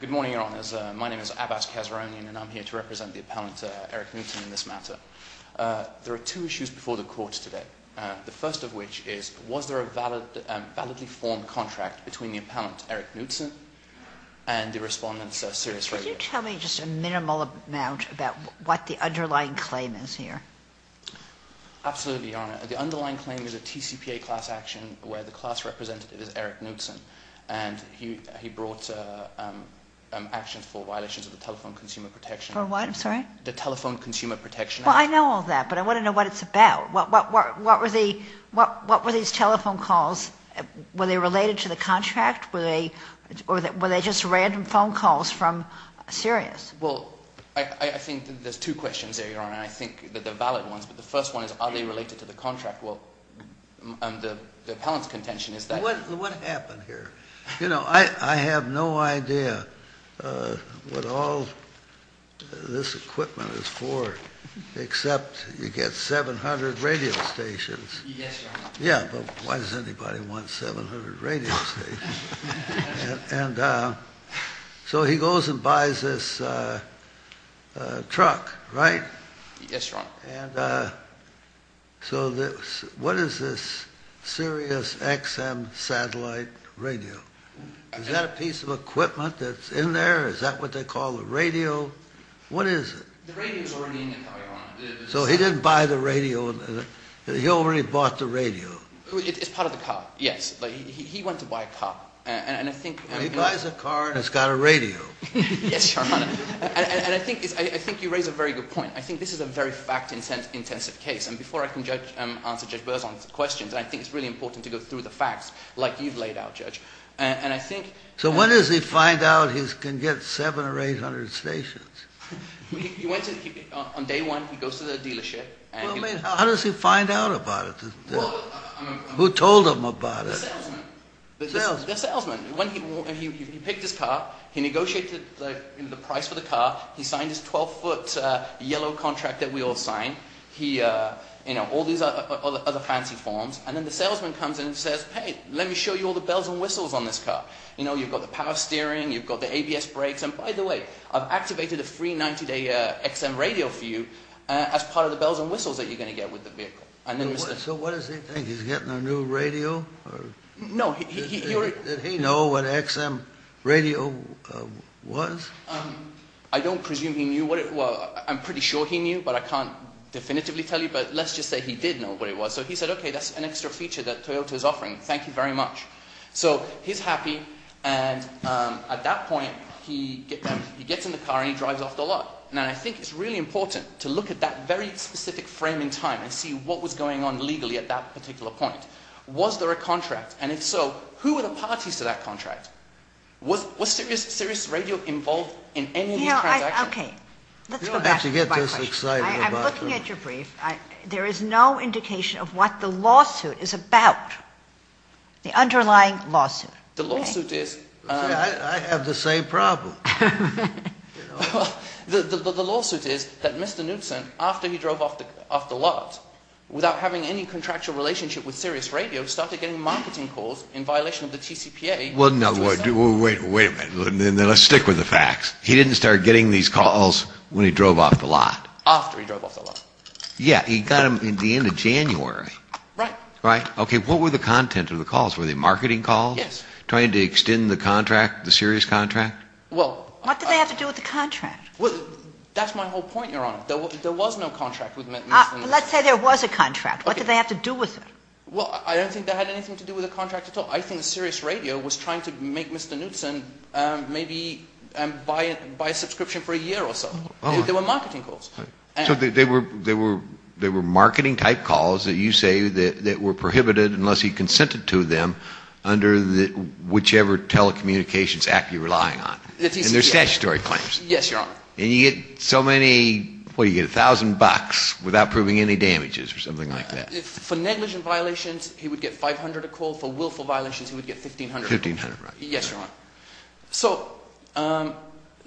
Good morning, Your Honours. My name is Abbas Kazrounian and I'm here to represent the Appellant Eric Knutson in this matter. There are two issues before the Court today. The first of which is, was there a validly formed contract between the Appellant Eric Knutson and the Respondent Sirius Radio? Could you tell me just a minimal amount about what the underlying claim is here? Absolutely, Your Honour. The underlying claim is a TCPA class action where the class representative is Eric Knutson. And he brought actions for violations of the Telephone Consumer Protection Act. For what? I'm sorry? The Telephone Consumer Protection Act. Well, I know all that, but I want to know what it's about. What were these telephone calls, were they related to the contract? Were they just random phone calls from Sirius? Well, I think there's two questions there, Your Honour, and I think that they're valid ones. But the first one is, are they related to the contract? And the Appellant's contention is that... What happened here? You know, I have no idea what all this equipment is for, except you get 700 radio stations. Yes, Your Honour. Yeah, but why does anybody want 700 radio stations? And so he goes and buys this truck, right? Yes, Your Honour. And so what is this Sirius XM satellite radio? Is that a piece of equipment that's in there? Is that what they call a radio? What is it? So he didn't buy the radio. He already bought the radio. It's part of the car, yes. He went to buy a car. He buys a car and it's got a radio. Yes, Your Honour. And I think you raise a very good point. I think this is a very fact-intensive case. And before I can answer Judge Berzon's questions, I think it's really important to go through the facts like you've laid out, Judge. So when does he find out he can get 700 or 800 stations? On day one, he goes to the dealership. How does he find out about it? Who told him about it? The salesman. The salesman. The salesman. He picked his car. He negotiated the price for the car. He signed his 12-foot yellow contract that we all signed. All these other fancy forms. And then the salesman comes in and says, hey, let me show you all the bells and whistles on this car. You've got the power steering. You've got the ABS brakes. And by the way, I've activated a free 90-day XM radio for you as part of the bells and whistles that you're going to get with the vehicle. So what does he think? He's getting a new radio? No. Did he know what XM radio was? I don't presume he knew what it was. I'm pretty sure he knew, but I can't definitively tell you. But let's just say he did know what it was. So he said, okay, that's an extra feature that Toyota is offering. Thank you very much. So he's happy. And at that point, he gets in the car and he drives off the lot. And I think it's really important to look at that very specific frame in time and see what was going on legally at that particular point. Was there a contract? And if so, who were the parties to that contract? Was Sirius Radio involved in any of these transactions? You don't have to get this excited about this. I'm looking at your brief. There is no indication of what the lawsuit is about, the underlying lawsuit. The lawsuit is... I have the same problem. The lawsuit is that Mr. Knutson, after he drove off the lot, without having any contractual relationship with Sirius Radio, started getting marketing calls in violation of the TCPA. Well, no. Wait a minute. Let's stick with the facts. He didn't start getting these calls when he drove off the lot. After he drove off the lot. Yeah. He got them at the end of January. Right. Right. Okay. What were the content of the calls? Were they marketing calls? Yes. Trying to extend the contract, the Sirius contract? Well... What did they have to do with the contract? Well, that's my whole point, Your Honor. There was no contract with Mr. Knutson. Let's say there was a contract. What did they have to do with it? Well, I don't think they had anything to do with the contract at all. I think Sirius Radio was trying to make Mr. Knutson maybe buy a subscription for a year or so. They were marketing calls. So they were marketing-type calls that you say that were prohibited unless he consented to them under whichever telecommunications act you're relying on. And they're statutory claims. Yes, Your Honor. And you get so many, well, you get a thousand bucks without proving any damages or something like that. For negligent violations, he would get $500 a call. For willful violations, he would get $1,500. $1,500, right. Yes, Your Honor.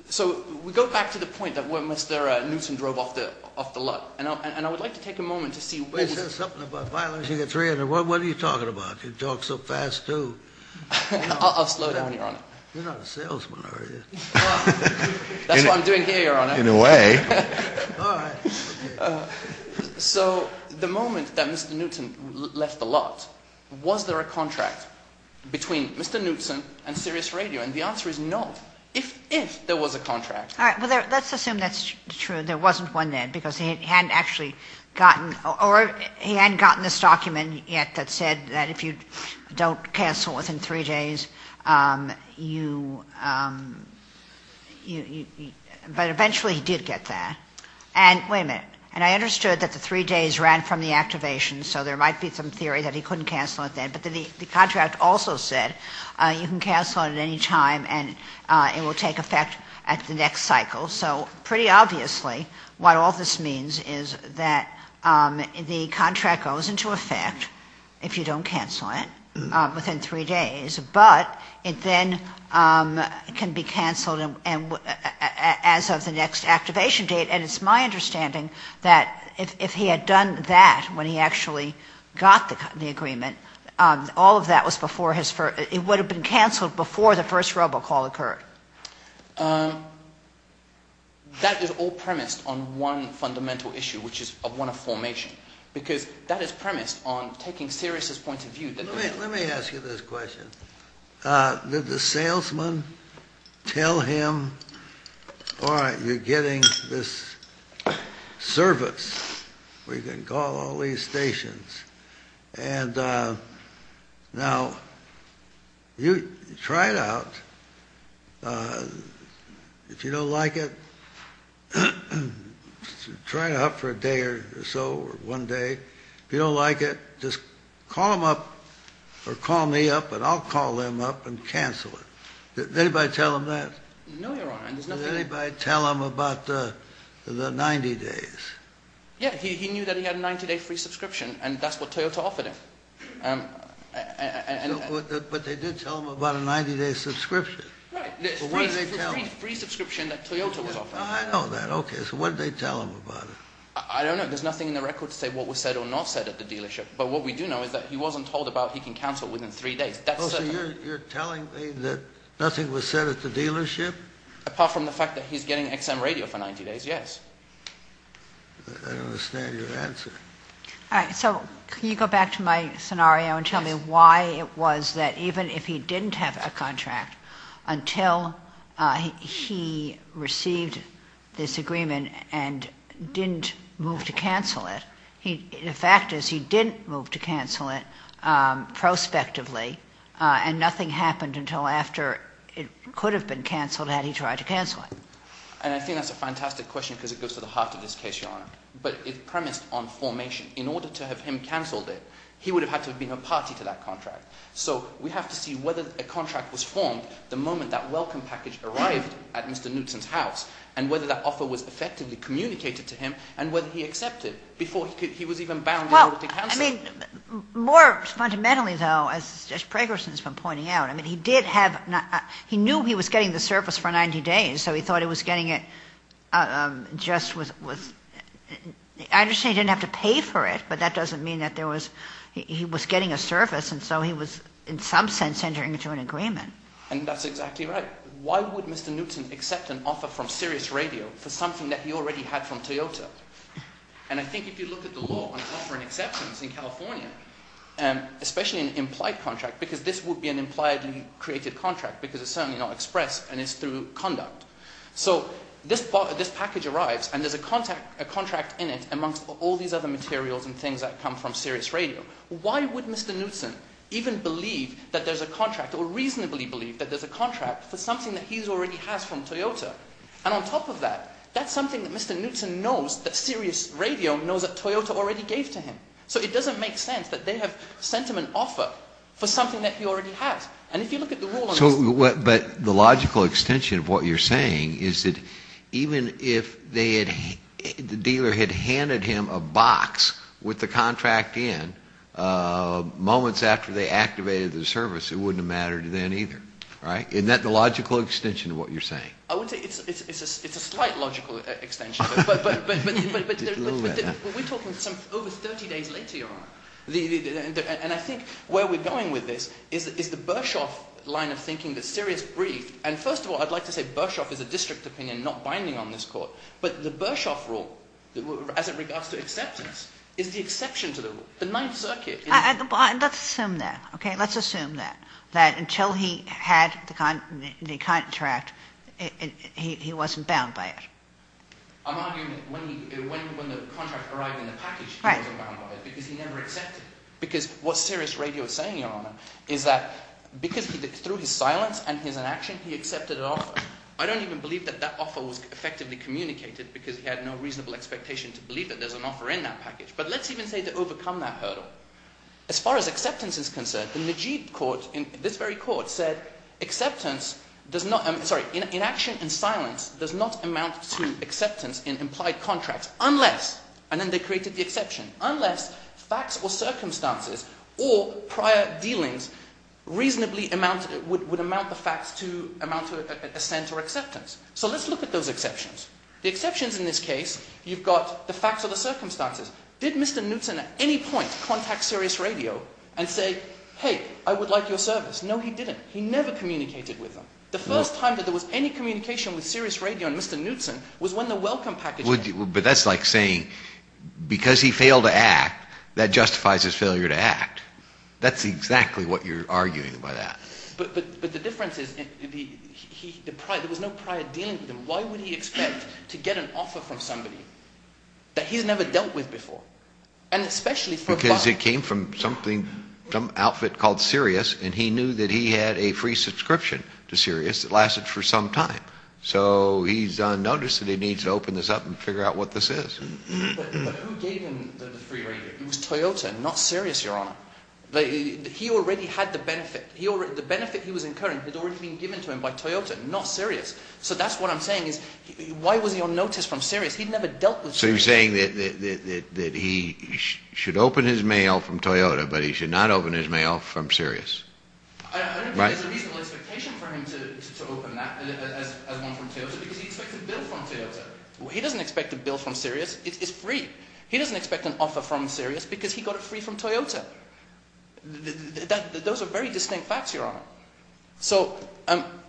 So we go back to the point that when Mr. Knutson drove off the lot. And I would like to take a moment to see what was... Is there something about violating a $300? What are you talking about? You talk so fast, too. I'll slow down, Your Honor. You're not a salesman, are you? That's what I'm doing here, Your Honor. In a way. All right. So the moment that Mr. Knutson left the lot, was there a contract between Mr. Knutson and Sirius Radio? And the answer is no, if there was a contract. All right, well, let's assume that's true. There wasn't one then because he hadn't actually gotten... Or he hadn't gotten this document yet that said that if you don't cancel within three days, you... But eventually he did get that. Wait a minute. And I understood that the three days ran from the activation, so there might be some theory that he couldn't cancel it then. But the contract also said you can cancel it at any time and it will take effect at the next cycle. So pretty obviously what all this means is that the contract goes into effect if you don't cancel it within three days. But it then can be canceled as of the next activation date. And it's my understanding that if he had done that when he actually got the agreement, all of that was before his first... It would have been canceled before the first robocall occurred. That is all premised on one fundamental issue, which is one of formation. Because that is premised on taking Sirius' point of view. Let me ask you this question. Did the salesman tell him, all right, you're getting this service where you can call all these stations. And now you try it out. If you don't like it, try it out for a day or so or one day. If you don't like it, just call them up or call me up and I'll call them up and cancel it. Did anybody tell him that? No, Your Honor. Did anybody tell him about the 90 days? Yeah, he knew that he had a 90-day free subscription and that's what Toyota offered him. But they did tell him about a 90-day subscription. Right. The free subscription that Toyota was offering. I know that. Okay, so what did they tell him about it? I don't know. There's nothing in the record to say what was said or not said at the dealership. But what we do know is that he wasn't told about he can cancel within three days. That's certain. Oh, so you're telling me that nothing was said at the dealership? Apart from the fact that he's getting XM radio for 90 days, yes. I don't understand your answer. All right, so can you go back to my scenario and tell me why it was that even if he didn't have a contract, until he received this agreement and didn't move to cancel it, the fact is he didn't move to cancel it prospectively and nothing happened until after it could have been canceled had he tried to cancel it. And I think that's a fantastic question because it goes to the heart of this case, Your Honor. But it premised on formation. In order to have him canceled it, he would have had to have been a party to that contract. So we have to see whether a contract was formed the moment that welcome package arrived at Mr. Knutson's house and whether that offer was effectively communicated to him and whether he accepted before he was even bound in order to cancel it. Well, I mean, more fundamentally, though, as Mr. Preggerson has been pointing out, I mean, he did have not he knew he was getting the service for 90 days, so he thought he was getting it just with I understand he didn't have to pay for it, but that doesn't mean that there was he was getting a service, and so he was in some sense entering into an agreement. And that's exactly right. Why would Mr. Knutson accept an offer from Sirius Radio for something that he already had from Toyota? And I think if you look at the law on offering exceptions in California, especially an implied contract, because this would be an implied created contract because it's certainly not expressed and it's through conduct. So this package arrives and there's a contract in it amongst all these other materials and things that come from Sirius Radio. Why would Mr. Knutson even believe that there's a contract or reasonably believe that there's a contract for something that he already has from Toyota? And on top of that, that's something that Mr. Knutson knows that Sirius Radio knows that Toyota already gave to him. So it doesn't make sense that they have sent him an offer for something that he already has. But the logical extension of what you're saying is that even if the dealer had handed him a box with the contract in, moments after they activated the service, it wouldn't have mattered then either, right? Isn't that the logical extension of what you're saying? I would say it's a slight logical extension, but we're talking over 30 days later, Your Honor. And I think where we're going with this is the Bershoff line of thinking that Sirius briefed. And first of all, I'd like to say Bershoff is a district opinion, not binding on this Court. But the Bershoff rule, as it regards to acceptance, is the exception to the rule. The Ninth Circuit. Let's assume that, okay? Let's assume that, that until he had the contract, he wasn't bound by it. I'm arguing that when the contract arrived in the package, he wasn't bound by it because he never accepted it. Because what Sirius Radio is saying, Your Honor, is that because through his silence and his inaction, he accepted an offer. I don't even believe that that offer was effectively communicated because he had no reasonable expectation to believe that there's an offer in that package. But let's even say to overcome that hurdle. As far as acceptance is concerned, the Najib Court in this very Court said, Inaction and silence does not amount to acceptance in implied contracts unless, and then they created the exception, unless facts or circumstances or prior dealings reasonably would amount to assent or acceptance. So let's look at those exceptions. The exceptions in this case, you've got the facts or the circumstances. Did Mr. Knutson at any point contact Sirius Radio and say, hey, I would like your service? No, he didn't. He never communicated with them. The first time that there was any communication with Sirius Radio and Mr. Knutson was when the welcome package arrived. But that's like saying, because he failed to act, that justifies his failure to act. That's exactly what you're arguing by that. But the difference is, there was no prior dealing with him. Why would he expect to get an offer from somebody that he's never dealt with before? And especially for a buyer. Because it came from something, some outfit called Sirius, and he knew that he had a free subscription to Sirius that lasted for some time. So he's unnoticed that he needs to open this up and figure out what this is. But who gave him the free radio? It was Toyota, not Sirius, Your Honor. He already had the benefit. The benefit he was incurring had already been given to him by Toyota, not Sirius. So that's what I'm saying is, why was he unnoticed from Sirius? He'd never dealt with Sirius. So you're saying that he should open his mail from Toyota, but he should not open his mail from Sirius. I don't think there's a reasonable expectation for him to open that as one from Toyota, because he expected a bill from Toyota. He doesn't expect a bill from Sirius. It's free. He doesn't expect an offer from Sirius because he got it free from Toyota. Those are very distinct facts, Your Honor. So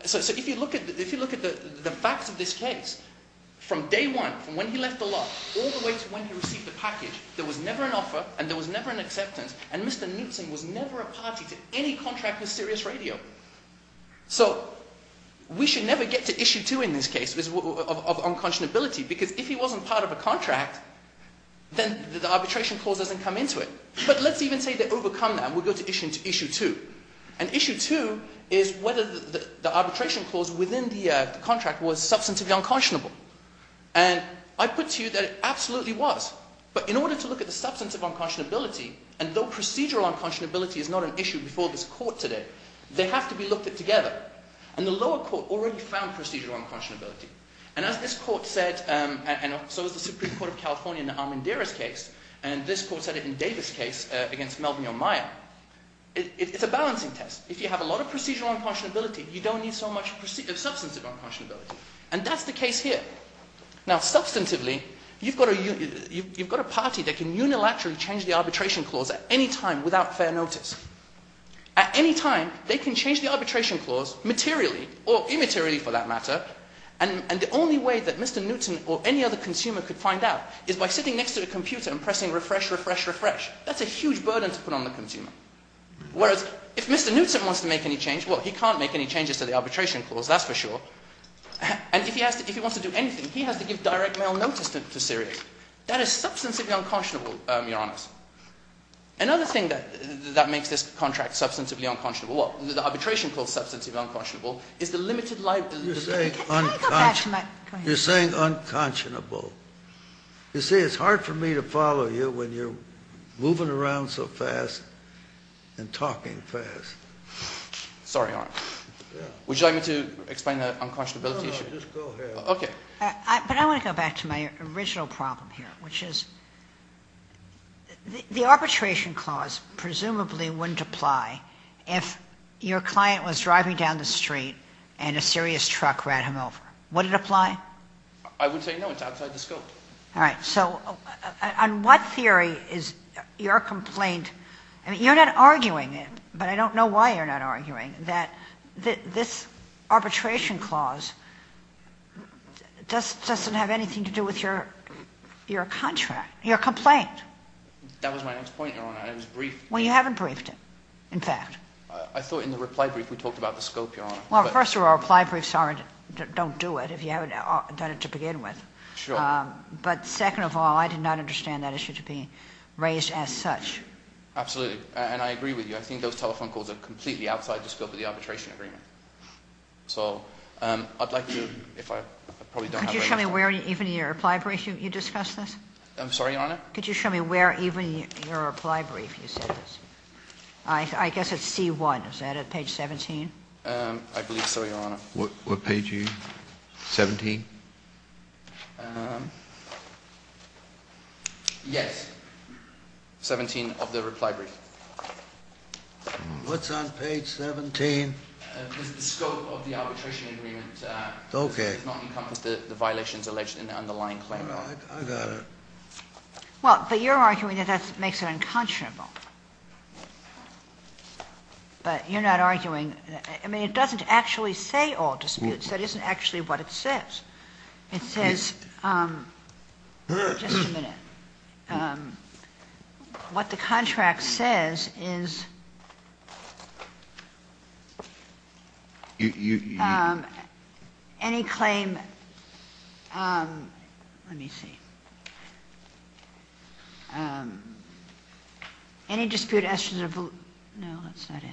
if you look at the facts of this case, from day one, from when he left the lot, all the way to when he received the package, there was never an offer and there was never an acceptance, and Mr. Knutson was never a party to any contract with Sirius Radio. So we should never get to Issue 2 in this case of unconscionability, because if he wasn't part of a contract, then the arbitration clause doesn't come into it. But let's even say they overcome that and we go to Issue 2. And Issue 2 is whether the arbitration clause within the contract was substantively unconscionable. And I put to you that it absolutely was. But in order to look at the substantive unconscionability, and though procedural unconscionability is not an issue before this court today, they have to be looked at together. And the lower court already found procedural unconscionability. And as this court said, and so is the Supreme Court of California in the Armandiris case, and this court said it in Davis' case against Melvin O'Meara, it's a balancing test. If you have a lot of procedural unconscionability, you don't need so much substantive unconscionability. And that's the case here. Now, substantively, you've got a party that can unilaterally change the arbitration clause at any time without fair notice. At any time, they can change the arbitration clause materially, or immaterially for that matter, and the only way that Mr. Newton or any other consumer could find out is by sitting next to a computer and pressing refresh, refresh, refresh. That's a huge burden to put on the consumer. Whereas if Mr. Newton wants to make any change, well, he can't make any changes to the arbitration clause, that's for sure. And if he wants to do anything, he has to give direct mail notice to Sirius. That is substantively unconscionable, Your Honor. Another thing that makes this contract substantively unconscionable, well, the arbitration clause substantively unconscionable, is the limited liability. You're saying unconscionable. You see, it's hard for me to follow you when you're moving around so fast and talking fast. Sorry, Your Honor. Would you like me to explain the unconscionability issue? No, no, just go ahead. Okay. But I want to go back to my original problem here, which is the arbitration clause presumably wouldn't apply if your client was driving down the street and a Sirius truck ran him over. Would it apply? I would say no. It's outside the scope. All right. So on what theory is your complaint? I mean, you're not arguing it, but I don't know why you're not arguing that this arbitration clause doesn't have anything to do with your contract, your complaint. That was my next point, Your Honor. I was briefed. Well, you haven't briefed, in fact. I thought in the reply brief we talked about the scope, Your Honor. Well, first of all, reply briefs don't do it if you haven't done it to begin with. Sure. But second of all, I did not understand that issue to be raised as such. Absolutely. And I agree with you. I think those telephone calls are completely outside the scope of the arbitration agreement. So I'd like to, if I probably don't have a way to – Could you show me where even in your reply brief you discussed this? I'm sorry, Your Honor? Could you show me where even in your reply brief you said this? I guess it's C-1. Is that it? Page 17? I believe so, Your Honor. What page are you – 17? Yes. 17 of the reply brief. What's on page 17? It's the scope of the arbitration agreement. Okay. It does not encompass the violations alleged in the underlying claim. Well, I got it. Well, but you're arguing that that makes it unconscionable. But you're not arguing – I mean, it doesn't actually say all disputes. That isn't actually what it says. It says – just a minute. What the contract says is any claim – let me see. Any dispute – no, that's not it.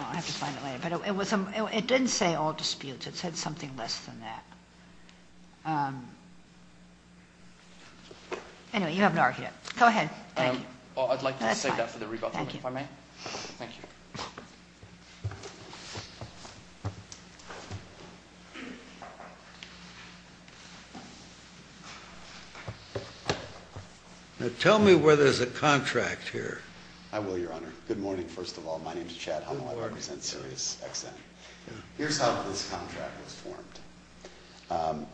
I'll have to find it later. But it didn't say all disputes. It said something less than that. Anyway, you haven't argued it. Go ahead. Thank you. Well, I'd like to save that for the rebuttal, if I may. Thank you. Now, tell me where there's a contract here. I will, Your Honor. Good morning, first of all. My name's Chad Hummel. I represent SiriusXM. Here's how this contract was formed.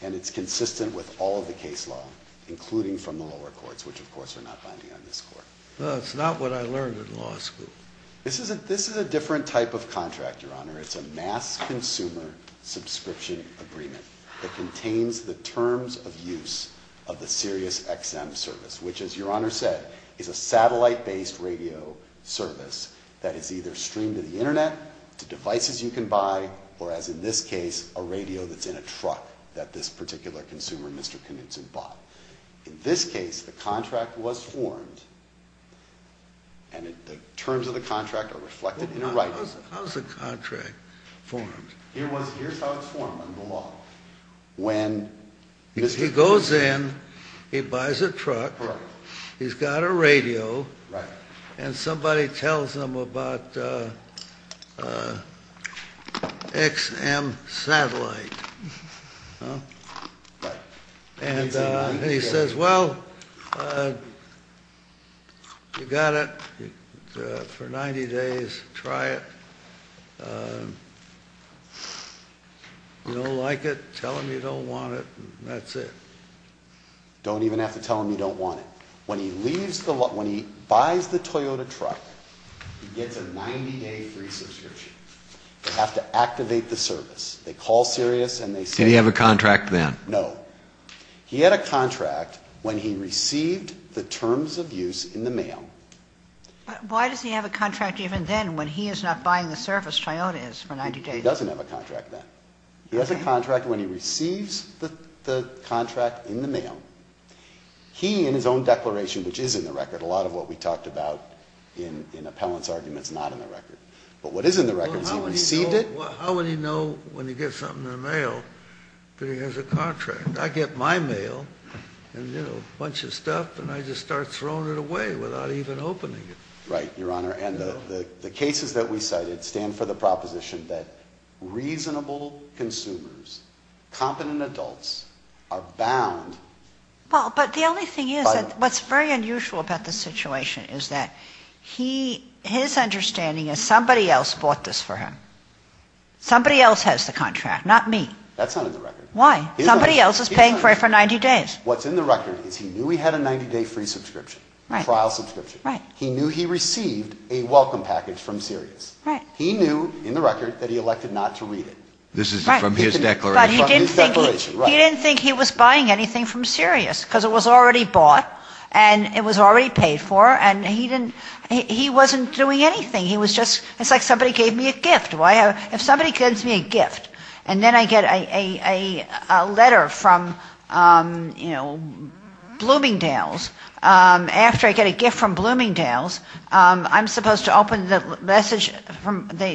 And it's consistent with all of the case law, including from the lower courts, which, of course, are not binding on this Court. No, it's not what I learned in law school. This is a different type of contract, Your Honor. It's a mass consumer subscription agreement that contains the terms of use of the SiriusXM service, which, as Your Honor said, is a satellite-based radio service that is either streamed to the Internet, to devices you can buy, or, as in this case, a radio that's in a truck that this particular consumer, Mr. Knutson, bought. In this case, the contract was formed, and the terms of the contract are reflected in the writing. How's the contract formed? He goes in. He buys a truck. He's got a radio. And somebody tells him about XM Satellite. And he says, well, you got it for 90 days. Try it. If you don't like it, tell him you don't want it, and that's it. Don't even have to tell him you don't want it. When he buys the Toyota truck, he gets a 90-day free subscription. They have to activate the service. They call Sirius, and they say... Did he have a contract then? No. He had a contract when he received the terms of use in the mail. But why does he have a contract even then when he is not buying the service Toyota is for 90 days? He doesn't have a contract then. He has a contract when he receives the contract in the mail. He, in his own declaration, which is in the record, a lot of what we talked about in appellant's argument is not in the record. But what is in the record is he received it... Well, how would he know when he gets something in the mail that he has a contract? I get my mail and, you know, a bunch of stuff, and I just start throwing it away without even opening it. Right, Your Honor. And the cases that we cited stand for the proposition that reasonable consumers, competent adults are bound... Well, but the only thing is that what's very unusual about this situation is that his understanding is somebody else bought this for him. Somebody else has the contract, not me. That's not in the record. Why? Somebody else is paying for it for 90 days. What's in the record is he knew he had a 90-day free subscription, trial subscription. Right. He knew he received a welcome package from Sirius. Right. He knew, in the record, that he elected not to read it. This is from his declaration. But he didn't think he was buying anything from Sirius because it was already bought, and it was already paid for, and he wasn't doing anything. It's like somebody gave me a gift. If somebody gives me a gift and then I get a letter from, you know, Bloomingdale's, after I get a gift from Bloomingdale's, I'm supposed to open the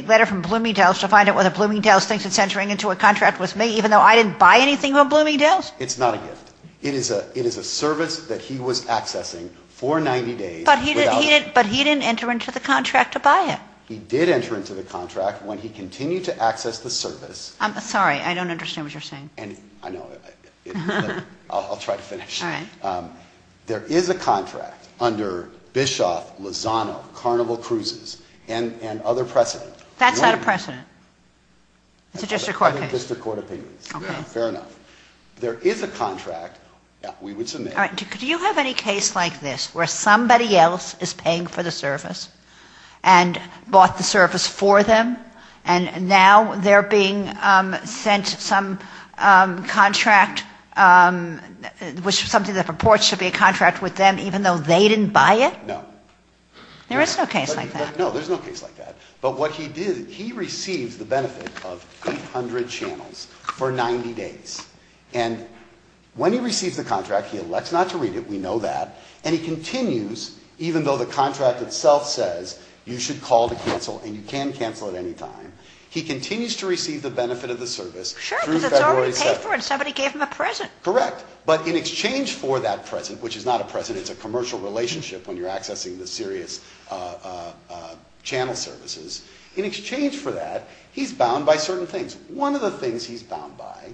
letter from Bloomingdale's to find out whether Bloomingdale's thinks it's entering into a contract with me, even though I didn't buy anything from Bloomingdale's? It's not a gift. It is a service that he was accessing for 90 days without... But he didn't enter into the contract to buy it. He did enter into the contract when he continued to access the service. I'm sorry. I don't understand what you're saying. I know. I'll try to finish. There is a contract under Bischoff, Lozano, Carnival Cruises, and other precedent. That's not a precedent. It's a district court case. It's a district court opinion. Okay. Fair enough. There is a contract, we would submit... All right. Do you have any case like this where somebody else is paying for the service and bought the service for them, and now they're being sent some contract, which is something that purports to be a contract with them, even though they didn't buy it? No. There is no case like that. No, there's no case like that. But what he did, he received the benefit of 800 channels for 90 days. And when he receives the contract, he elects not to read it. We know that. And he continues, even though the contract itself says you should call to cancel, and you can cancel at any time, he continues to receive the benefit of the service through February 7th. Sure, because it's already paid for, and somebody gave him a present. Correct. But in exchange for that present, which is not a present. It's a commercial relationship when you're accessing the serious channel services. In exchange for that, he's bound by certain things. One of the things he's bound by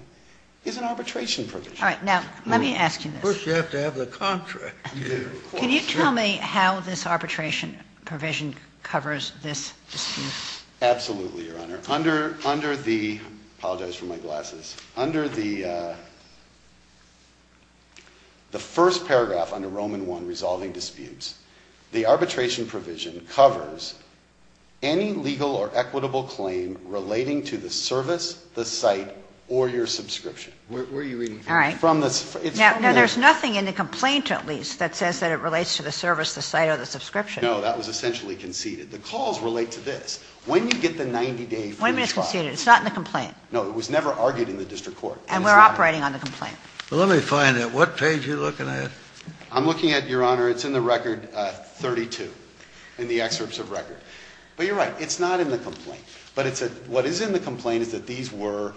is an arbitration provision. All right. Now, let me ask you this. First, you have to have the contract. Can you tell me how this arbitration provision covers this dispute? Absolutely, Your Honor. Under the — I apologize for my glasses. Under the first paragraph under Roman I, Resolving Disputes, the arbitration provision covers any legal or equitable claim relating to the service, the site, or your subscription. Where are you reading from? All right. Now, there's nothing in the complaint, at least, that says that it relates to the service, the site, or the subscription. No, that was essentially conceded. The calls relate to this. When you get the 90-day free trial — When it's conceded. It's not in the complaint. No, it was never argued in the district court. And we're operating on the complaint. Well, let me find it. What page are you looking at? I'm looking at, Your Honor, it's in the record 32, in the excerpts of record. But you're right. It's not in the complaint. But it's a — what is in the complaint is that these were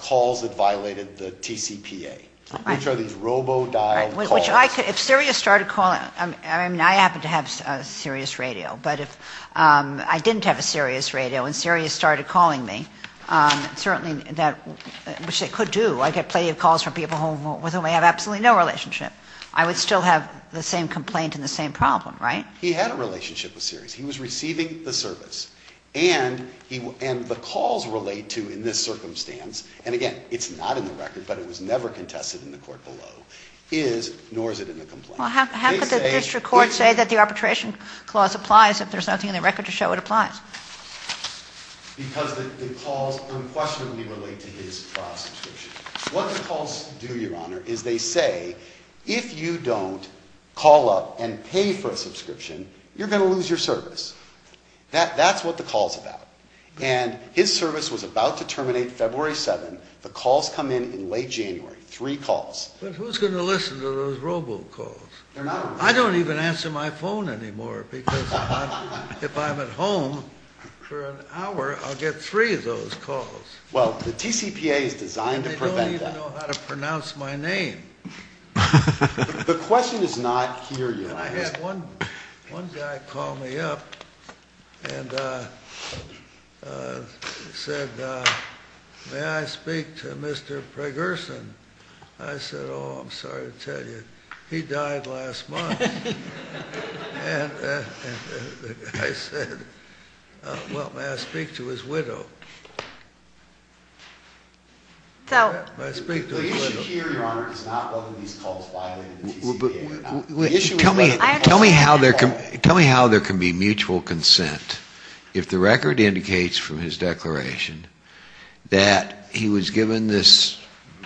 calls that violated the TCPA. All right. Which are these robo-dialed calls. Which I could — if Sirius started calling — I mean, I happen to have a Sirius radio. But if I didn't have a Sirius radio and Sirius started calling me, certainly that — which they could do. I get plenty of calls from people with whom I have absolutely no relationship. I would still have the same complaint and the same problem, right? He had a relationship with Sirius. He was receiving the service. And the calls relate to, in this circumstance — and, again, it's not in the record, but it was never contested in the court below — is, nor is it in the complaint. Well, how could the district court say that the arbitration clause applies if there's nothing in the record to show it applies? Because the calls unquestionably relate to his trial subscription. What the calls do, Your Honor, is they say, if you don't call up and pay for a subscription, you're going to lose your service. That's what the call's about. And his service was about to terminate February 7th. The calls come in in late January. Three calls. But who's going to listen to those robo-calls? I don't even answer my phone anymore because if I'm at home for an hour, I'll get three of those calls. Well, the TCPA is designed to prevent that. They don't even know how to pronounce my name. The question is not here yet. One guy called me up and said, may I speak to Mr. Pragerson? I said, oh, I'm sorry to tell you, he died last month. And the guy said, well, may I speak to his widow? The issue here, Your Honor, is not whether these calls violate the TCPA or not. Tell me how there can be mutual consent if the record indicates from his declaration that he was given this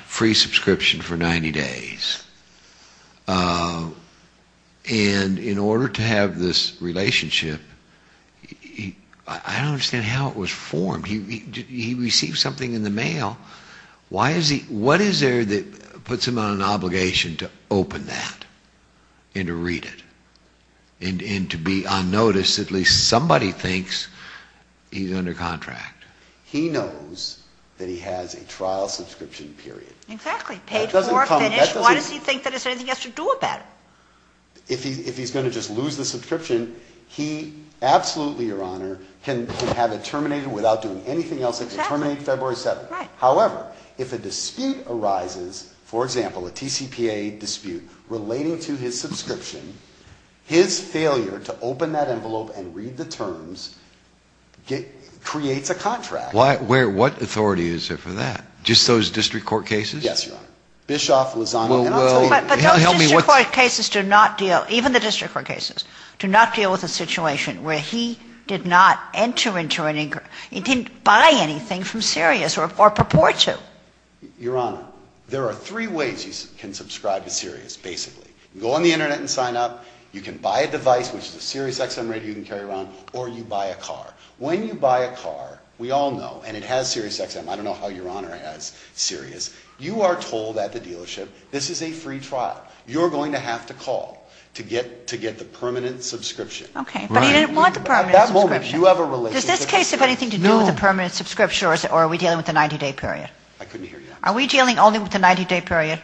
free subscription for 90 days. And in order to have this relationship, I don't understand how it was formed. He received something in the mail. What is there that puts him on an obligation to open that and to read it and to be unnoticed? At least somebody thinks he's under contract. He knows that he has a trial subscription period. Exactly. Paid for, finished. Why does he think there's anything else to do about it? If he's going to just lose the subscription, he absolutely, Your Honor, can have it terminated without doing anything else. However, if a dispute arises, for example, a TCPA dispute relating to his subscription, his failure to open that envelope and read the terms creates a contract. What authority is there for that? Just those district court cases? Yes, Your Honor. But those district court cases do not deal, even the district court cases, do not deal with a situation where he did not enter into an, he didn't buy anything from Sirius or purport to. Your Honor, there are three ways you can subscribe to Sirius, basically. You can go on the Internet and sign up. You can buy a device, which is a SiriusXM radio you can carry around, or you buy a car. When you buy a car, we all know, and it has SiriusXM. I don't know how Your Honor has Sirius. You are told at the dealership, this is a free trial. You're going to have to call to get the permanent subscription. Okay. But he didn't want the permanent subscription. At that moment, you have a relationship. Does this case have anything to do with the permanent subscription or are we dealing with a 90-day period? I couldn't hear you. Are we dealing only with the 90-day period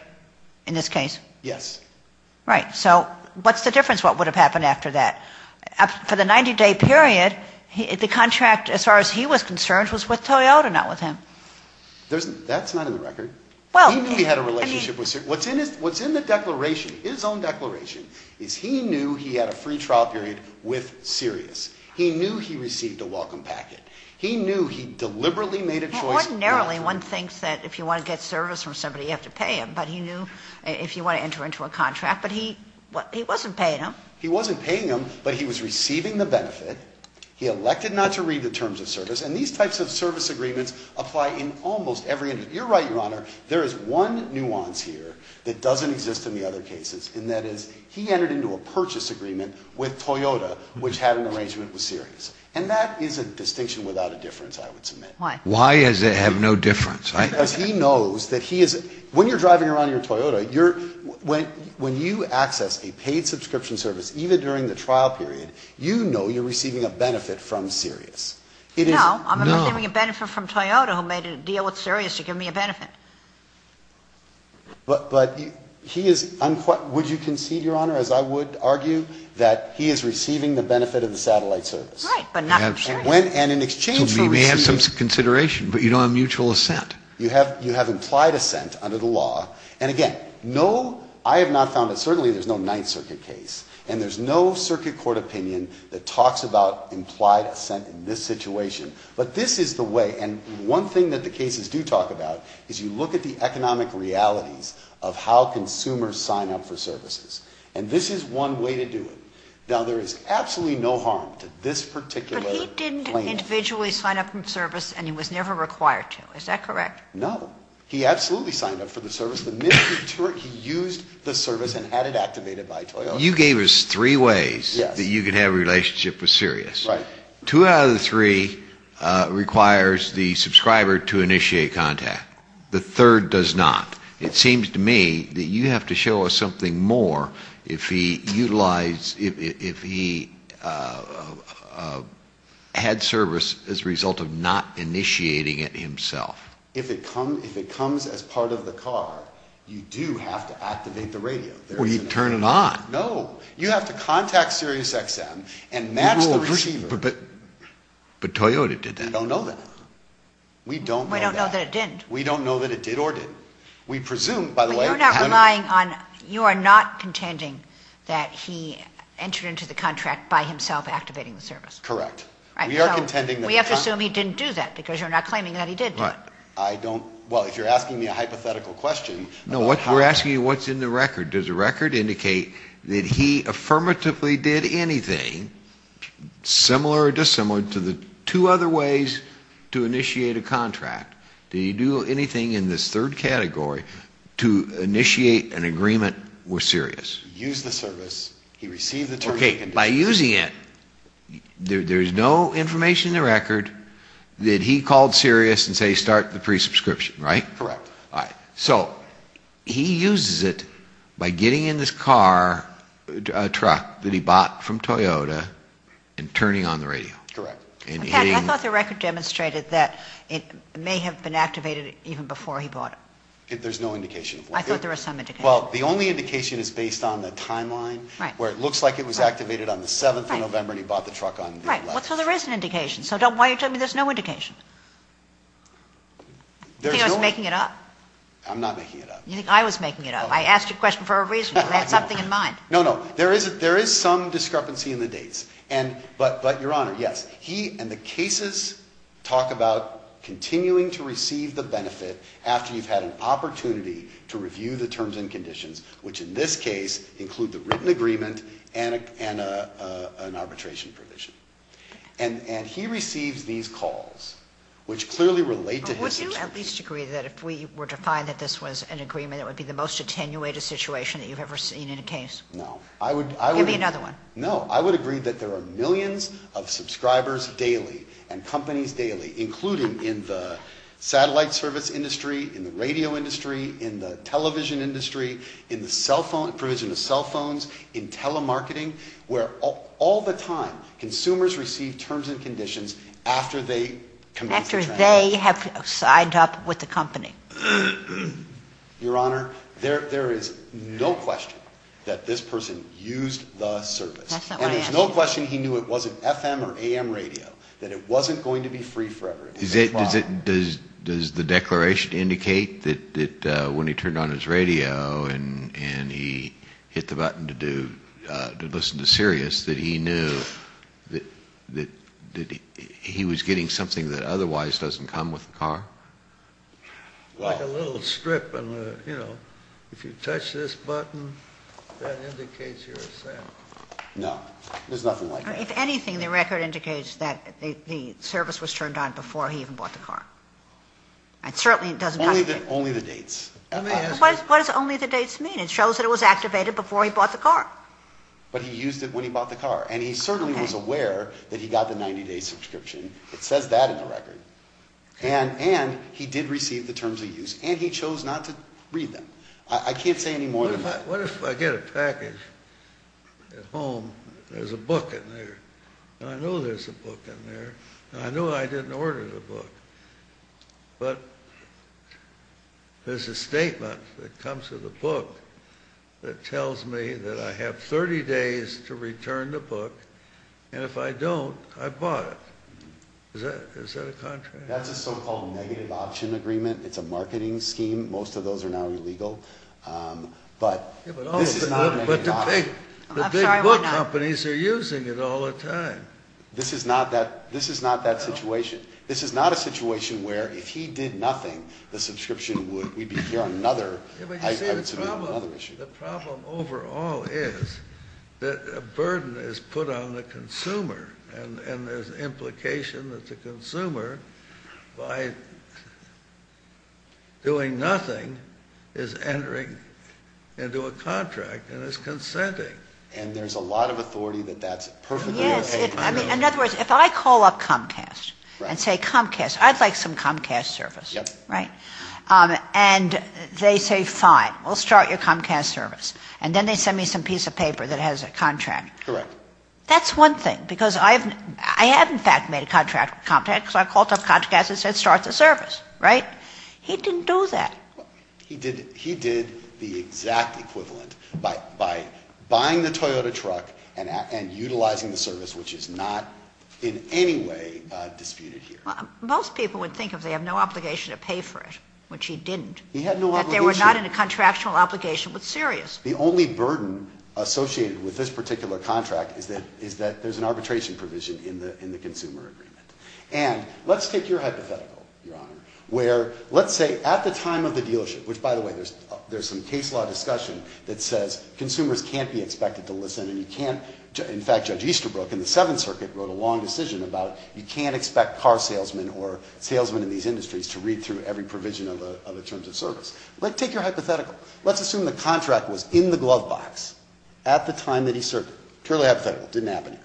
in this case? Yes. Right. So what's the difference? What would have happened after that? For the 90-day period, the contract, as far as he was concerned, was with Toyota, not with him. That's not in the record. He knew he had a relationship with Sirius. What's in the declaration, his own declaration, is he knew he had a free trial period with Sirius. He knew he received a welcome packet. He knew he deliberately made a choice. Ordinarily, one thinks that if you want to get service from somebody, you have to pay him. But he knew if you want to enter into a contract. But he wasn't paying him. He wasn't paying him, but he was receiving the benefit. He elected not to read the terms of service. And these types of service agreements apply in almost every industry. You're right, Your Honor. There is one nuance here that doesn't exist in the other cases. And that is he entered into a purchase agreement with Toyota, which had an arrangement with Sirius. And that is a distinction without a difference, I would submit. Why? Why does it have no difference? When you're driving around in your Toyota, when you access a paid subscription service, even during the trial period, you know you're receiving a benefit from Sirius. No, I'm receiving a benefit from Toyota, who made a deal with Sirius to give me a benefit. But would you concede, Your Honor, as I would argue, that he is receiving the benefit of the satellite service? Right, but not from Sirius. So you may have some consideration, but you don't have mutual assent. You have implied assent under the law. And, again, I have not found that certainly there's no Ninth Circuit case. And there's no circuit court opinion that talks about implied assent in this situation. But this is the way. And one thing that the cases do talk about is you look at the economic realities of how consumers sign up for services. And this is one way to do it. Now, there is absolutely no harm to this particular case. He didn't individually sign up for the service, and he was never required to. Is that correct? No. He absolutely signed up for the service. The minute he used the service and had it activated by Toyota. You gave us three ways that you could have a relationship with Sirius. Right. Two out of the three requires the subscriber to initiate contact. The third does not. It seems to me that you have to show us something more if he utilized, if he had service as a result of not initiating it himself. If it comes as part of the car, you do have to activate the radio. Well, you turn it on. No. You have to contact Sirius XM and match the receiver. But Toyota did that. We don't know that. We don't know that. We don't know that it did. We don't know that it did or didn't. We presume, by the way. You're not relying on, you are not contending that he entered into the contract by himself activating the service. Correct. We are contending that. We have to assume he didn't do that because you're not claiming that he did do it. I don't, well, if you're asking me a hypothetical question. No, we're asking you what's in the record. Does the record indicate that he affirmatively did anything similar or dissimilar to the two other ways to initiate a contract? Did he do anything in this third category to initiate an agreement with Sirius? Use the service. He received the terms and conditions. Okay. By using it, there's no information in the record that he called Sirius and said start the pre-subscription, right? Correct. All right. So he uses it by getting in this car, a truck that he bought from Toyota and turning on the radio. Correct. I thought the record demonstrated that it may have been activated even before he bought it. There's no indication. I thought there was some indication. Well, the only indication is based on the timeline where it looks like it was activated on the 7th of November and he bought the truck on the 11th. Right. So there is an indication. So why are you telling me there's no indication? You think I was making it up? I'm not making it up. You think I was making it up. I asked you a question for a reason. I had something in mind. No, no. There is some discrepancy in the dates. But, Your Honor, yes, he and the cases talk about continuing to receive the benefit after you've had an opportunity to review the terms and conditions, which in this case include the written agreement and an arbitration provision. And he receives these calls, which clearly relate to his experience. Would you at least agree that if we were to find that this was an agreement, it would be the most attenuated situation that you've ever seen in a case? No. Give me another one. No. I would agree that there are millions of subscribers daily and companies daily, including in the satellite service industry, in the radio industry, in the television industry, in the cell phone, provision of cell phones, in telemarketing, where all the time consumers receive terms and conditions after they have signed up with the company. Your Honor, there is no question that this person used the service. And there's no question he knew it wasn't FM or AM radio, that it wasn't going to be free forever. Does the declaration indicate that when he turned on his radio and he hit the button to listen to Sirius, that he knew that he was getting something that otherwise doesn't come with the car? Like a little strip. If you touch this button, that indicates you're set. There's nothing like that. If anything, the record indicates that the service was turned on before he even bought the car. It certainly doesn't have to be. Only the dates. What does only the dates mean? It shows that it was activated before he bought the car. But he used it when he bought the car. And he certainly was aware that he got the 90-day subscription. It says that in the record. And he did receive the terms of use. And he chose not to read them. I can't say any more than that. What if I get a package at home. There's a book in there. And I know there's a book in there. And I know I didn't order the book. But there's a statement that comes with the book that tells me that I have 30 days to return the book. And if I don't, I bought it. Is that a contract? That's a so-called negative option agreement. It's a marketing scheme. Most of those are now illegal. But this is not a negative option. But the big book companies are using it all the time. This is not that situation. This is not a situation where if he did nothing, the subscription would be here on another issue. The problem overall is that a burden is put on the consumer. And there's an implication that the consumer, by doing nothing, is entering into a contract and is consenting. And there's a lot of authority that that's perfectly okay. In other words, if I call up Comcast and say, Comcast, I'd like some Comcast service. And they say, fine, we'll start your Comcast service. And then they send me some piece of paper that has a contract. Correct. That's one thing. Because I have, in fact, made a contract with Comcast because I called up Comcast and said, start the service. Right? He didn't do that. He did the exact equivalent by buying the Toyota truck and utilizing the service, which is not in any way disputed here. Most people would think if they have no obligation to pay for it, which he didn't. He had no obligation. That they were not in a contractual obligation, but serious. The only burden associated with this particular contract is that there's an arbitration provision in the consumer agreement. And let's take your hypothetical, Your Honor, where let's say at the time of the dealership, which, by the way, there's some case law discussion that says consumers can't be expected to listen and you can't. In fact, Judge Easterbrook in the Seventh Circuit wrote a long decision about it. You can't expect car salesmen or salesmen in these industries to read through every provision of the terms of service. But take your hypothetical. Let's assume the contract was in the glove box at the time that he served. Totally hypothetical. Didn't happen here.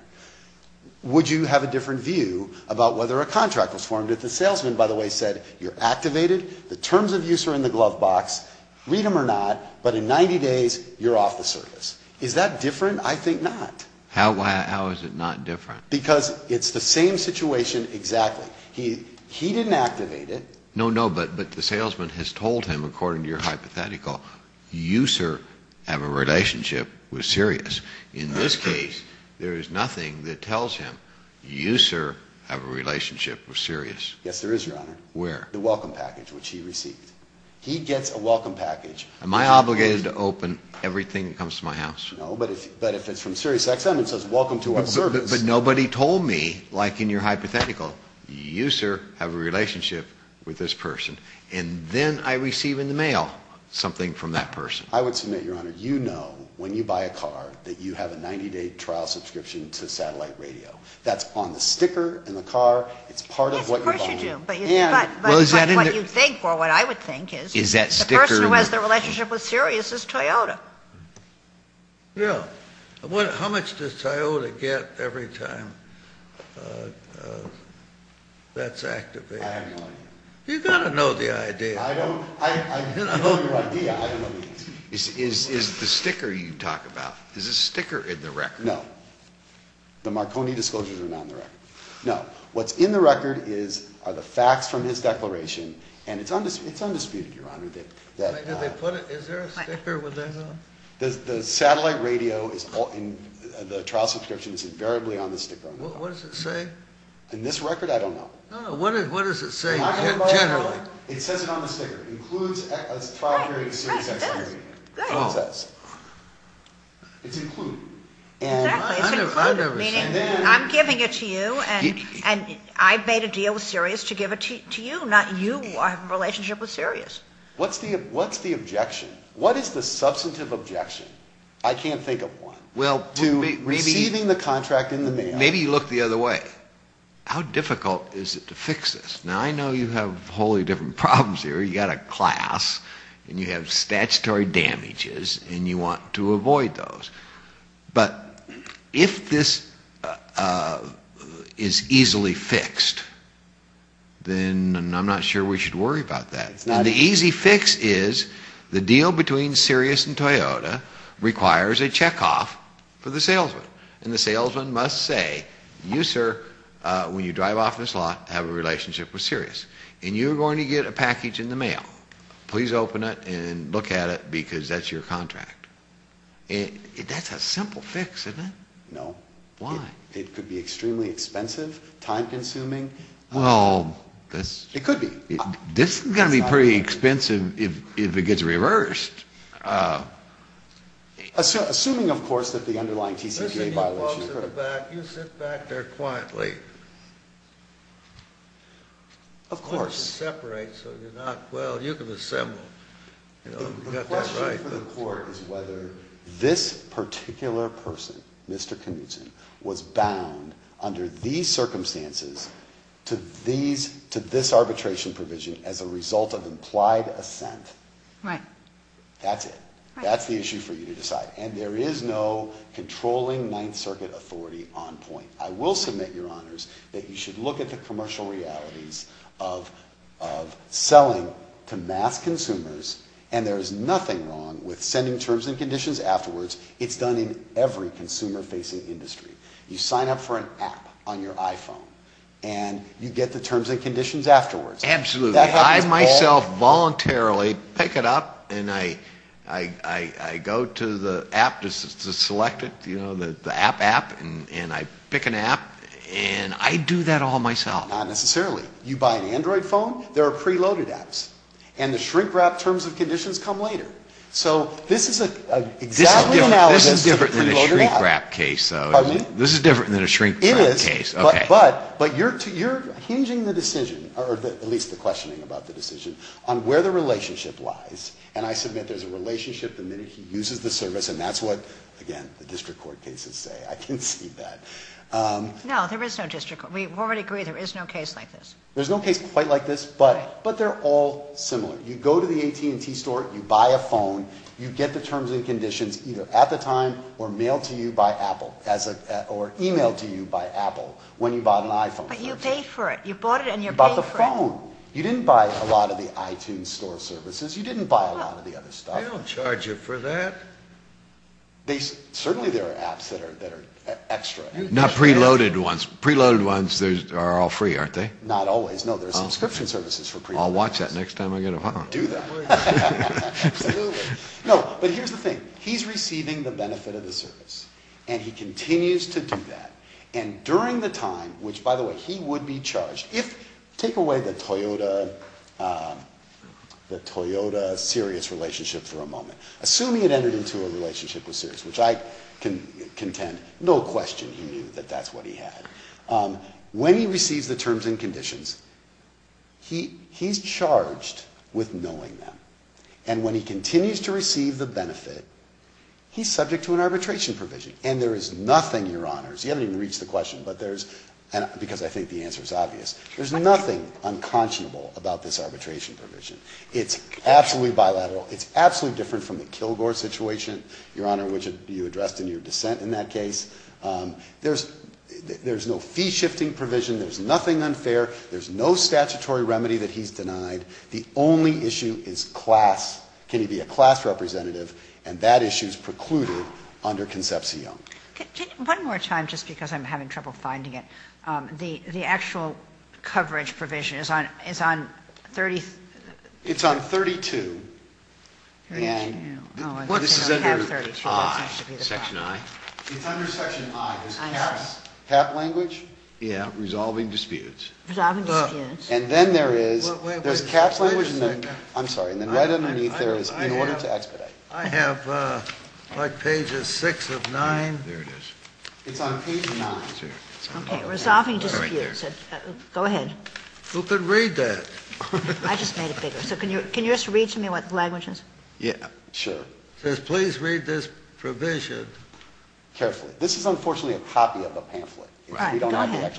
Would you have a different view about whether a contract was formed if the salesman, by the way, said you're activated, the terms of use are in the glove box, read them or not, but in 90 days you're off the service? Is that different? I think not. How is it not different? Because it's the same situation exactly. He didn't activate it. No, no, but the salesman has told him, according to your hypothetical, you, sir, have a relationship with Sirius. In this case, there is nothing that tells him you, sir, have a relationship with Sirius. Yes, there is, Your Honor. Where? The welcome package, which he received. He gets a welcome package. Am I obligated to open everything that comes to my house? No, but if it's from SiriusXM, it says welcome to our service. But nobody told me, like in your hypothetical, you, sir, have a relationship with this person. And then I receive in the mail something from that person. I would submit, Your Honor, you know when you buy a car that you have a 90-day trial subscription to satellite radio. That's on the sticker in the car. It's part of what you're buying. Yes, of course you do. But what you think or what I would think is the person who has the relationship with Sirius is Toyota. Yeah. How much does Toyota get every time that's activated? I don't know. You've got to know the idea. I don't. I know your idea. I don't know the answer. Is the sticker you talk about, is the sticker in the record? No. The Marconi disclosures are not in the record. No. What's in the record are the facts from his declaration, and it's undisputed, Your Honor. Is there a sticker with that on? The satellite radio, the trial subscription is invariably on the sticker on the car. What does it say? In this record, I don't know. No, no. What does it say generally? It says it on the sticker. It includes a trial period of SiriusXM. Right, right. It does. It does. It's included. Exactly. It's included. I've never seen it. I'm giving it to you, and I've made a deal with Sirius to give it to you. I'm not you. I have a relationship with Sirius. What's the objection? What is the substantive objection? I can't think of one. To receiving the contract in the mail. Maybe you look the other way. How difficult is it to fix this? Now, I know you have wholly different problems here. You've got a class, and you have statutory damages, and you want to avoid those. But if this is easily fixed, then I'm not sure we should worry about that. The easy fix is the deal between Sirius and Toyota requires a checkoff for the salesman. And the salesman must say, you, sir, when you drive off this lot, have a relationship with Sirius. And you're going to get a package in the mail. Please open it and look at it, because that's your contract. That's a simple fix, isn't it? No. Why? It could be extremely expensive, time-consuming. Well, this is going to be pretty expensive if it gets reversed. Assuming, of course, that the underlying TCPA violation is covered. You sit back there quietly. Of course. Separate so you're not, well, you can assemble. The question for the court is whether this particular person, Mr. Knutson, was bound under these circumstances to this arbitration provision as a result of implied assent. Right. That's it. That's the issue for you to decide. And there is no controlling Ninth Circuit authority on point. I will submit, Your Honors, that you should look at the commercial realities of selling to mass consumers, and there is nothing wrong with sending terms and conditions afterwards. It's done in every consumer-facing industry. You sign up for an app on your iPhone, and you get the terms and conditions afterwards. Absolutely. I myself voluntarily pick it up, and I go to the app to select it, the app app, and I pick an app, and I do that all myself. Not necessarily. You buy an Android phone, there are preloaded apps. And the shrink-wrap terms and conditions come later. So this is exactly analogous to the preloaded app. This is different than a shrink-wrap case, though. Pardon me? This is different than a shrink-wrap case. It is. Okay. But you're hinging the decision, or at least the questioning about the decision, on where the relationship lies. And I submit there's a relationship the minute he uses the service, and that's what, again, the district court cases say. I can see that. No, there is no district court. We already agree there is no case like this. There's no case quite like this, but they're all similar. You go to the AT&T store, you buy a phone, you get the terms and conditions either at the time or mailed to you by Apple, or emailed to you by Apple when you bought an iPhone. But you pay for it. You bought it and you're paying for it. You bought the phone. You didn't buy a lot of the iTunes store services. You didn't buy a lot of the other stuff. They don't charge you for that. Certainly there are apps that are extra. Not preloaded ones. Preloaded ones are all free, aren't they? Not always. No, there are subscription services for preloaded apps. I'll watch that next time I get a phone. Do that. Absolutely. No, but here's the thing. He's receiving the benefit of the service, and he continues to do that. And during the time, which, by the way, he would be charged. Take away the Toyota-Sirius relationship for a moment. Assuming it entered into a relationship with Sirius, which I can contend, no question he knew that that's what he had. When he receives the terms and conditions, he's charged with knowing them. And when he continues to receive the benefit, he's subject to an arbitration provision. And there is nothing, Your Honors, you haven't even reached the question, because I think the answer is obvious. There's nothing unconscionable about this arbitration provision. It's absolutely bilateral. It's absolutely different from the Kilgore situation, Your Honor, which you addressed in your dissent in that case. There's no fee-shifting provision. There's nothing unfair. There's no statutory remedy that he's denied. The only issue is class. Can he be a class representative? And that issue is precluded under Concepcion. One more time, just because I'm having trouble finding it. The actual coverage provision is on 32. This is under Section I. It's under Section I. Is CAP language? Yeah. Resolving disputes. Resolving disputes. And then there is, there's CAP language and then, I'm sorry, and then right underneath there is in order to expedite. I have, like, pages 6 of 9. There it is. It's on page 9. Okay. Resolving disputes. Go ahead. Who can read that? I just made it bigger. So can you just read to me what the language is? Yeah. Sure. It says, please read this provision. Carefully. This is unfortunately a copy of a pamphlet. Right. Go ahead.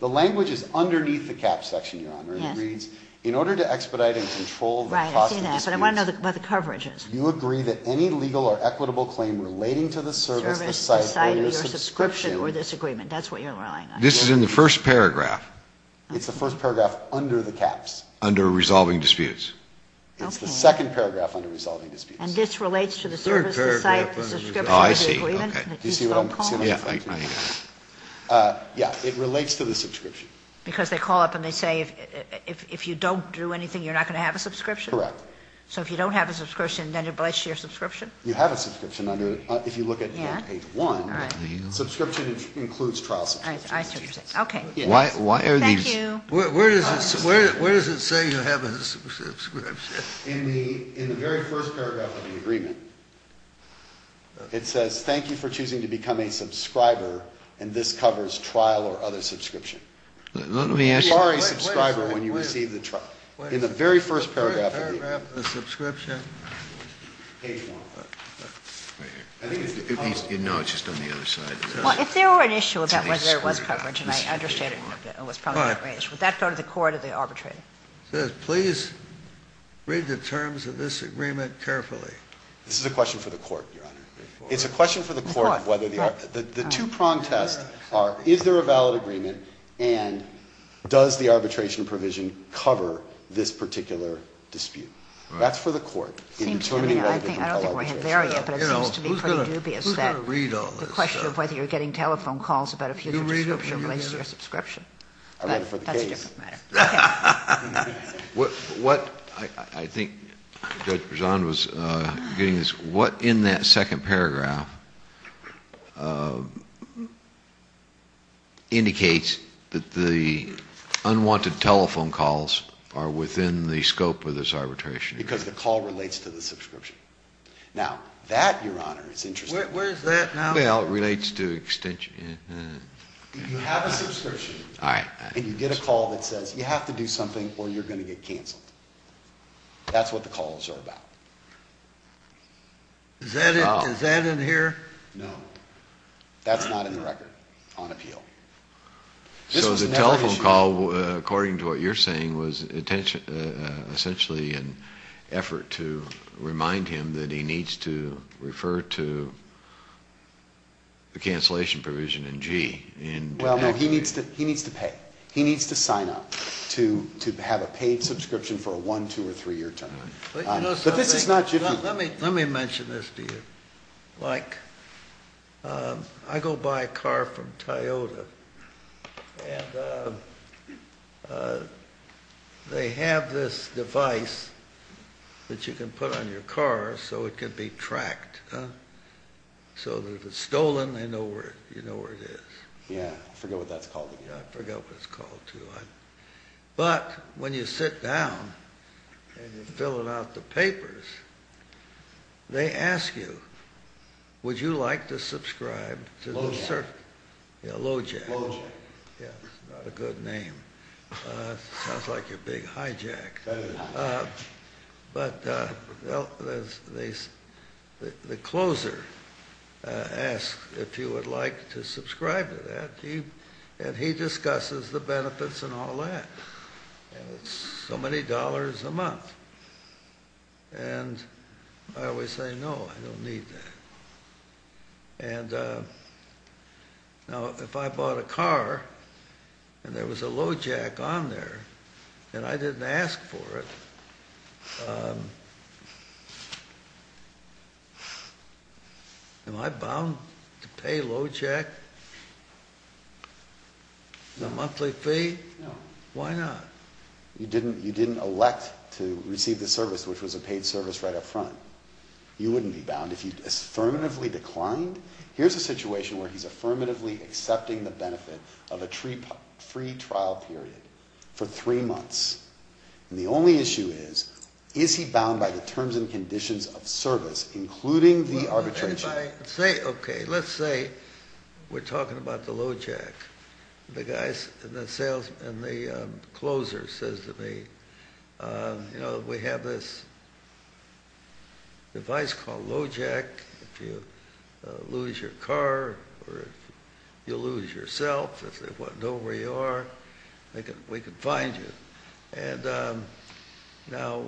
The language is underneath the CAP section, Your Honor. Yes. It reads, in order to expedite and control the cost of disputes. Right. I see that. But I want to know what the coverage is. You agree that any legal or equitable claim relating to the service, the site, or your subscription. Service, the site, or your subscription, or this agreement. That's what you're relying on. This is in the first paragraph. It's the first paragraph under the CAPs, under resolving disputes. Okay. It's the second paragraph under resolving disputes. And this relates to the service, the site, the subscription, or the agreement. Oh, I see. Okay. Do you see what I'm saying? Yeah. It relates to the subscription. Because they call up and they say, if you don't do anything, you're not going to have a subscription? Correct. So if you don't have a subscription, then it relates to your subscription? You have a subscription under, if you look at page one. Yeah. All right. Subscription includes trial sanctions. I see what you're saying. Okay. Why are these. Thank you. Where does it say you have a subscription? In the very first paragraph of the agreement, it says, thank you for choosing to become a subscriber, and this covers trial or other subscription. Let me ask you. You are a subscriber when you receive the trial. In the very first paragraph of the agreement. Paragraph of the subscription. Page one. Right here. I think it's. No, it's just on the other side. Well, if there were an issue about whether there was coverage, and I understand it was probably that range, would that go to the court or the arbitrator? It says, please read the terms of this agreement carefully. This is a question for the court, Your Honor. It's a question for the court. Of course. The two prong tests are, is there a valid agreement, and does the arbitration provision cover this particular dispute? That's for the court. I don't think we're there yet, but it seems to be pretty dubious. Who's going to read all this stuff? The question of whether you're getting telephone calls about a future subscription. You read it? I read it for the case. That's a different matter. What I think Judge Prejean was getting is, what in that second paragraph indicates that the unwanted telephone calls are within the scope of this arbitration agreement? Because the call relates to the subscription. Now, that, Your Honor, is interesting. Where is that now? Well, it relates to extension. You have a subscription, and you get a call that says you have to do something or you're going to get canceled. That's what the calls are about. Is that in here? No. That's not in the record on appeal. So the telephone call, according to what you're saying, was essentially an effort to remind him that he needs to refer to the cancellation provision in G. Well, no. He needs to pay. He needs to sign up to have a paid subscription for a one, two, or three-year term. But this is not jiffy. Let me mention this to you. I go buy a car from Toyota, and they have this device that you can put on your car so it can be tracked. So if it's stolen, they know where it is. Yeah. I forget what that's called. I forget what it's called, too. But when you sit down and you're filling out the papers, they ask you, would you like to subscribe to the service? Lojack. Yeah, Lojack. Lojack. Yes, not a good name. Sounds like you're being hijacked. That is not. But the closer asks if you would like to subscribe to that, and he discusses the benefits and all that. It's so many dollars a month. And I always say, no, I don't need that. And now if I bought a car, and there was a Lojack on there, and I didn't ask for it, am I bound to pay Lojack in a monthly fee? No. Why not? You didn't elect to receive the service, which was a paid service right up front. You wouldn't be bound. If you affirmatively declined, here's a situation where he's affirmatively accepting the benefit of a free trial period for three months. And the only issue is, is he bound by the terms and conditions of service, including the arbitration? If I say, okay, let's say we're talking about the Lojack. The guy, the sales, and the closer says to me, you know, we have this device called Lojack. If you lose your car, or if you lose yourself, if they want to know where you are, we can find you. And now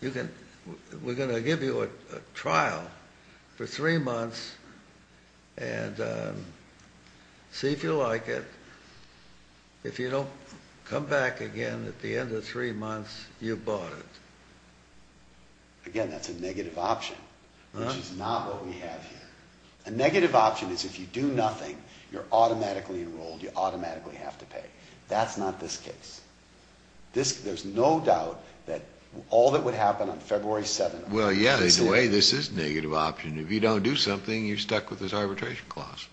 we're going to give you a trial for three months, and see if you like it. If you don't come back again at the end of three months, you've bought it. Again, that's a negative option, which is not what we have here. A negative option is if you do nothing, you're automatically enrolled, you automatically have to pay. That's not this case. There's no doubt that all that would happen on February 7th. Well, yeah, in a way, this is a negative option. If you don't do something, you're stuck with this arbitration clause.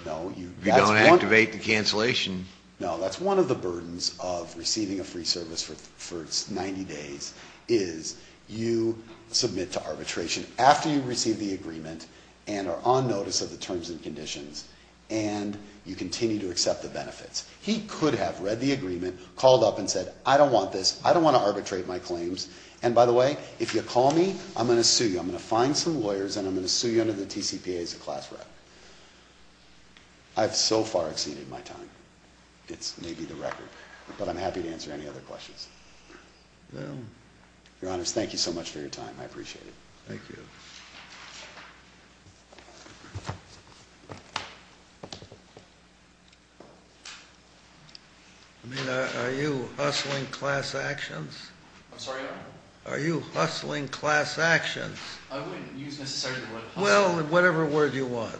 If you don't activate the cancellation. No, that's one of the burdens of receiving a free service for 90 days, is you submit to arbitration. After you receive the agreement, and are on notice of the terms and conditions, and you continue to accept the benefits. He could have read the agreement, called up and said, I don't want this, I don't want to arbitrate my claims. And by the way, if you call me, I'm going to sue you. I'm going to find some lawyers, and I'm going to sue you under the TCPA as a class rep. I've so far exceeded my time. It's maybe the record. But I'm happy to answer any other questions. Your Honor, thank you so much for your time. I appreciate it. Thank you. Are you hustling class actions? I'm sorry, Your Honor? Are you hustling class actions? I wouldn't use necessarily the word hustling. Well, whatever word you want.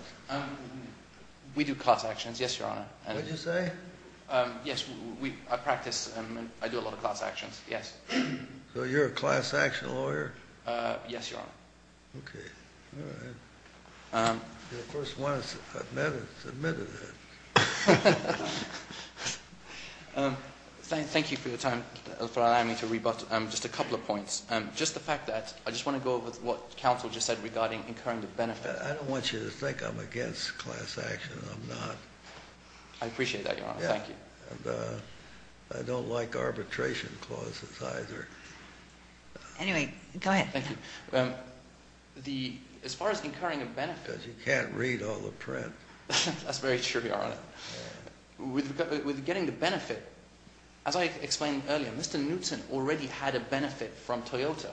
We do class actions, yes, Your Honor. What did you say? Yes, I practice. I do a lot of class actions, yes. So you're a class action lawyer? Yes, Your Honor. Okay. All right. You, of course, want to admit to that. Thank you for your time, for allowing me to rebut just a couple of points. Just the fact that I just want to go over what counsel just said regarding incurring the benefit. I don't want you to think I'm against class action. I'm not. I appreciate that, Your Honor. Thank you. I don't like arbitration clauses either. Anyway, go ahead. Thank you. As far as incurring a benefit. Because you can't read all the print. That's very true, Your Honor. With getting the benefit, as I explained earlier, Mr. Newton already had a benefit from Toyota.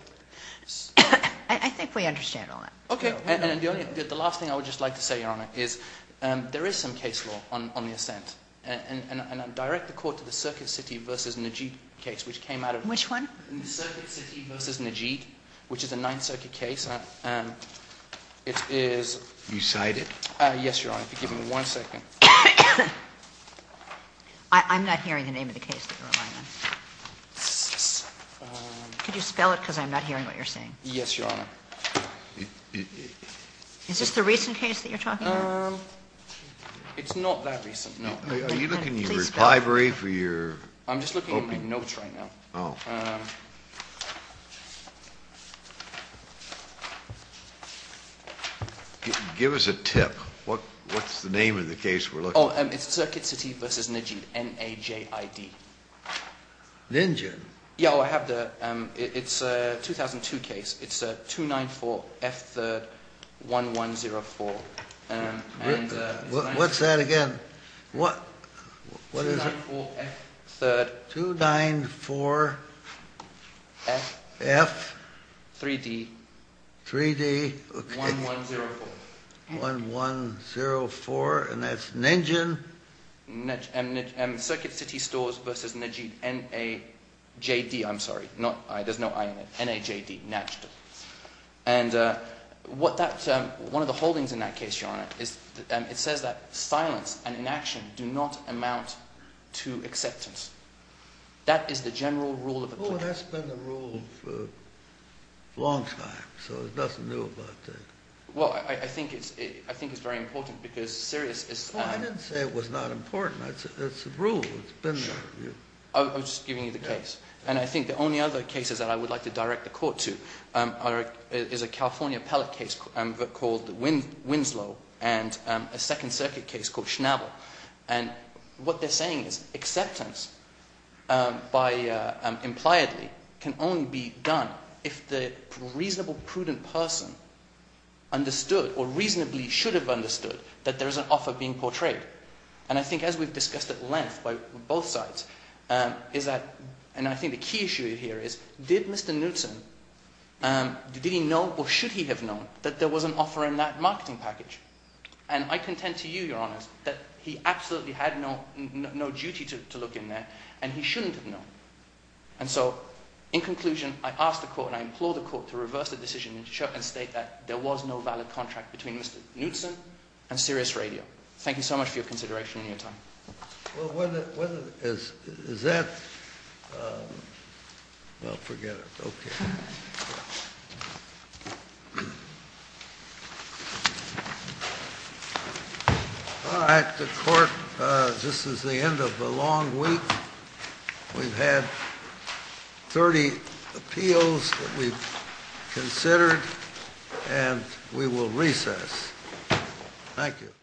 I think we understand all that. Okay. And the last thing I would just like to say, Your Honor, is there is some case law on the assent. And I direct the court to the Circuit City v. Najib case, which came out of... Which one? The Circuit City v. Najib, which is a Ninth Circuit case. It is... You cite it? Yes, Your Honor. If you'll give me one second. I'm not hearing the name of the case that you're relying on. Could you spell it because I'm not hearing what you're saying? Yes, Your Honor. Is this the recent case that you're talking about? It's not that recent, no. Are you looking in your library for your... I'm just looking at my notes right now. Oh. Give us a tip. What's the name of the case we're looking at? Oh, it's Circuit City v. Najib. N-A-J-I-B. Ninjib? Yeah, I have the... It's a 2002 case. It's 294F3-1104. What's that again? 294F3-... 294F... 3-D... 3-D... 1104. 1104, and that's Ninjib. Circuit City Stores v. Najib. N-A-J-D, I'm sorry. There's no I in it. N-A-J-D. Najd. And what that... One of the holdings in that case, Your Honor, is... It says that silence and inaction do not amount to acceptance. That is the general rule of the... Oh, that's been the rule for a long time, so there's nothing new about that. Well, I think it's very important because Sirius is... Well, I didn't say it was not important. It's a rule. It's been there. I was just giving you the case. And I think the only other cases that I would like to direct the court to is a California pellet case called Winslow and a Second Circuit case called Schnabel. And what they're saying is acceptance by... Impliedly can only be done if the reasonable, prudent person understood or reasonably should have understood that there is an offer being portrayed. And I think as we've discussed at length by both sides is that... And I think the key issue here is did Mr. Newton... Did he know or should he have known that there was an offer in that marketing package? And I contend to you, Your Honor, that he absolutely had no duty to look in there and he shouldn't have known. And so, in conclusion, I ask the court and I implore the court to reverse the decision and state that there was no valid contract between Mr. Newton and Sirius Radio. Thank you so much for your consideration and your time. Well, is that... Well, forget it. Okay. All right, the court... This is the end of a long week. We've had 30 appeals that we've considered and we will recess. Thank you.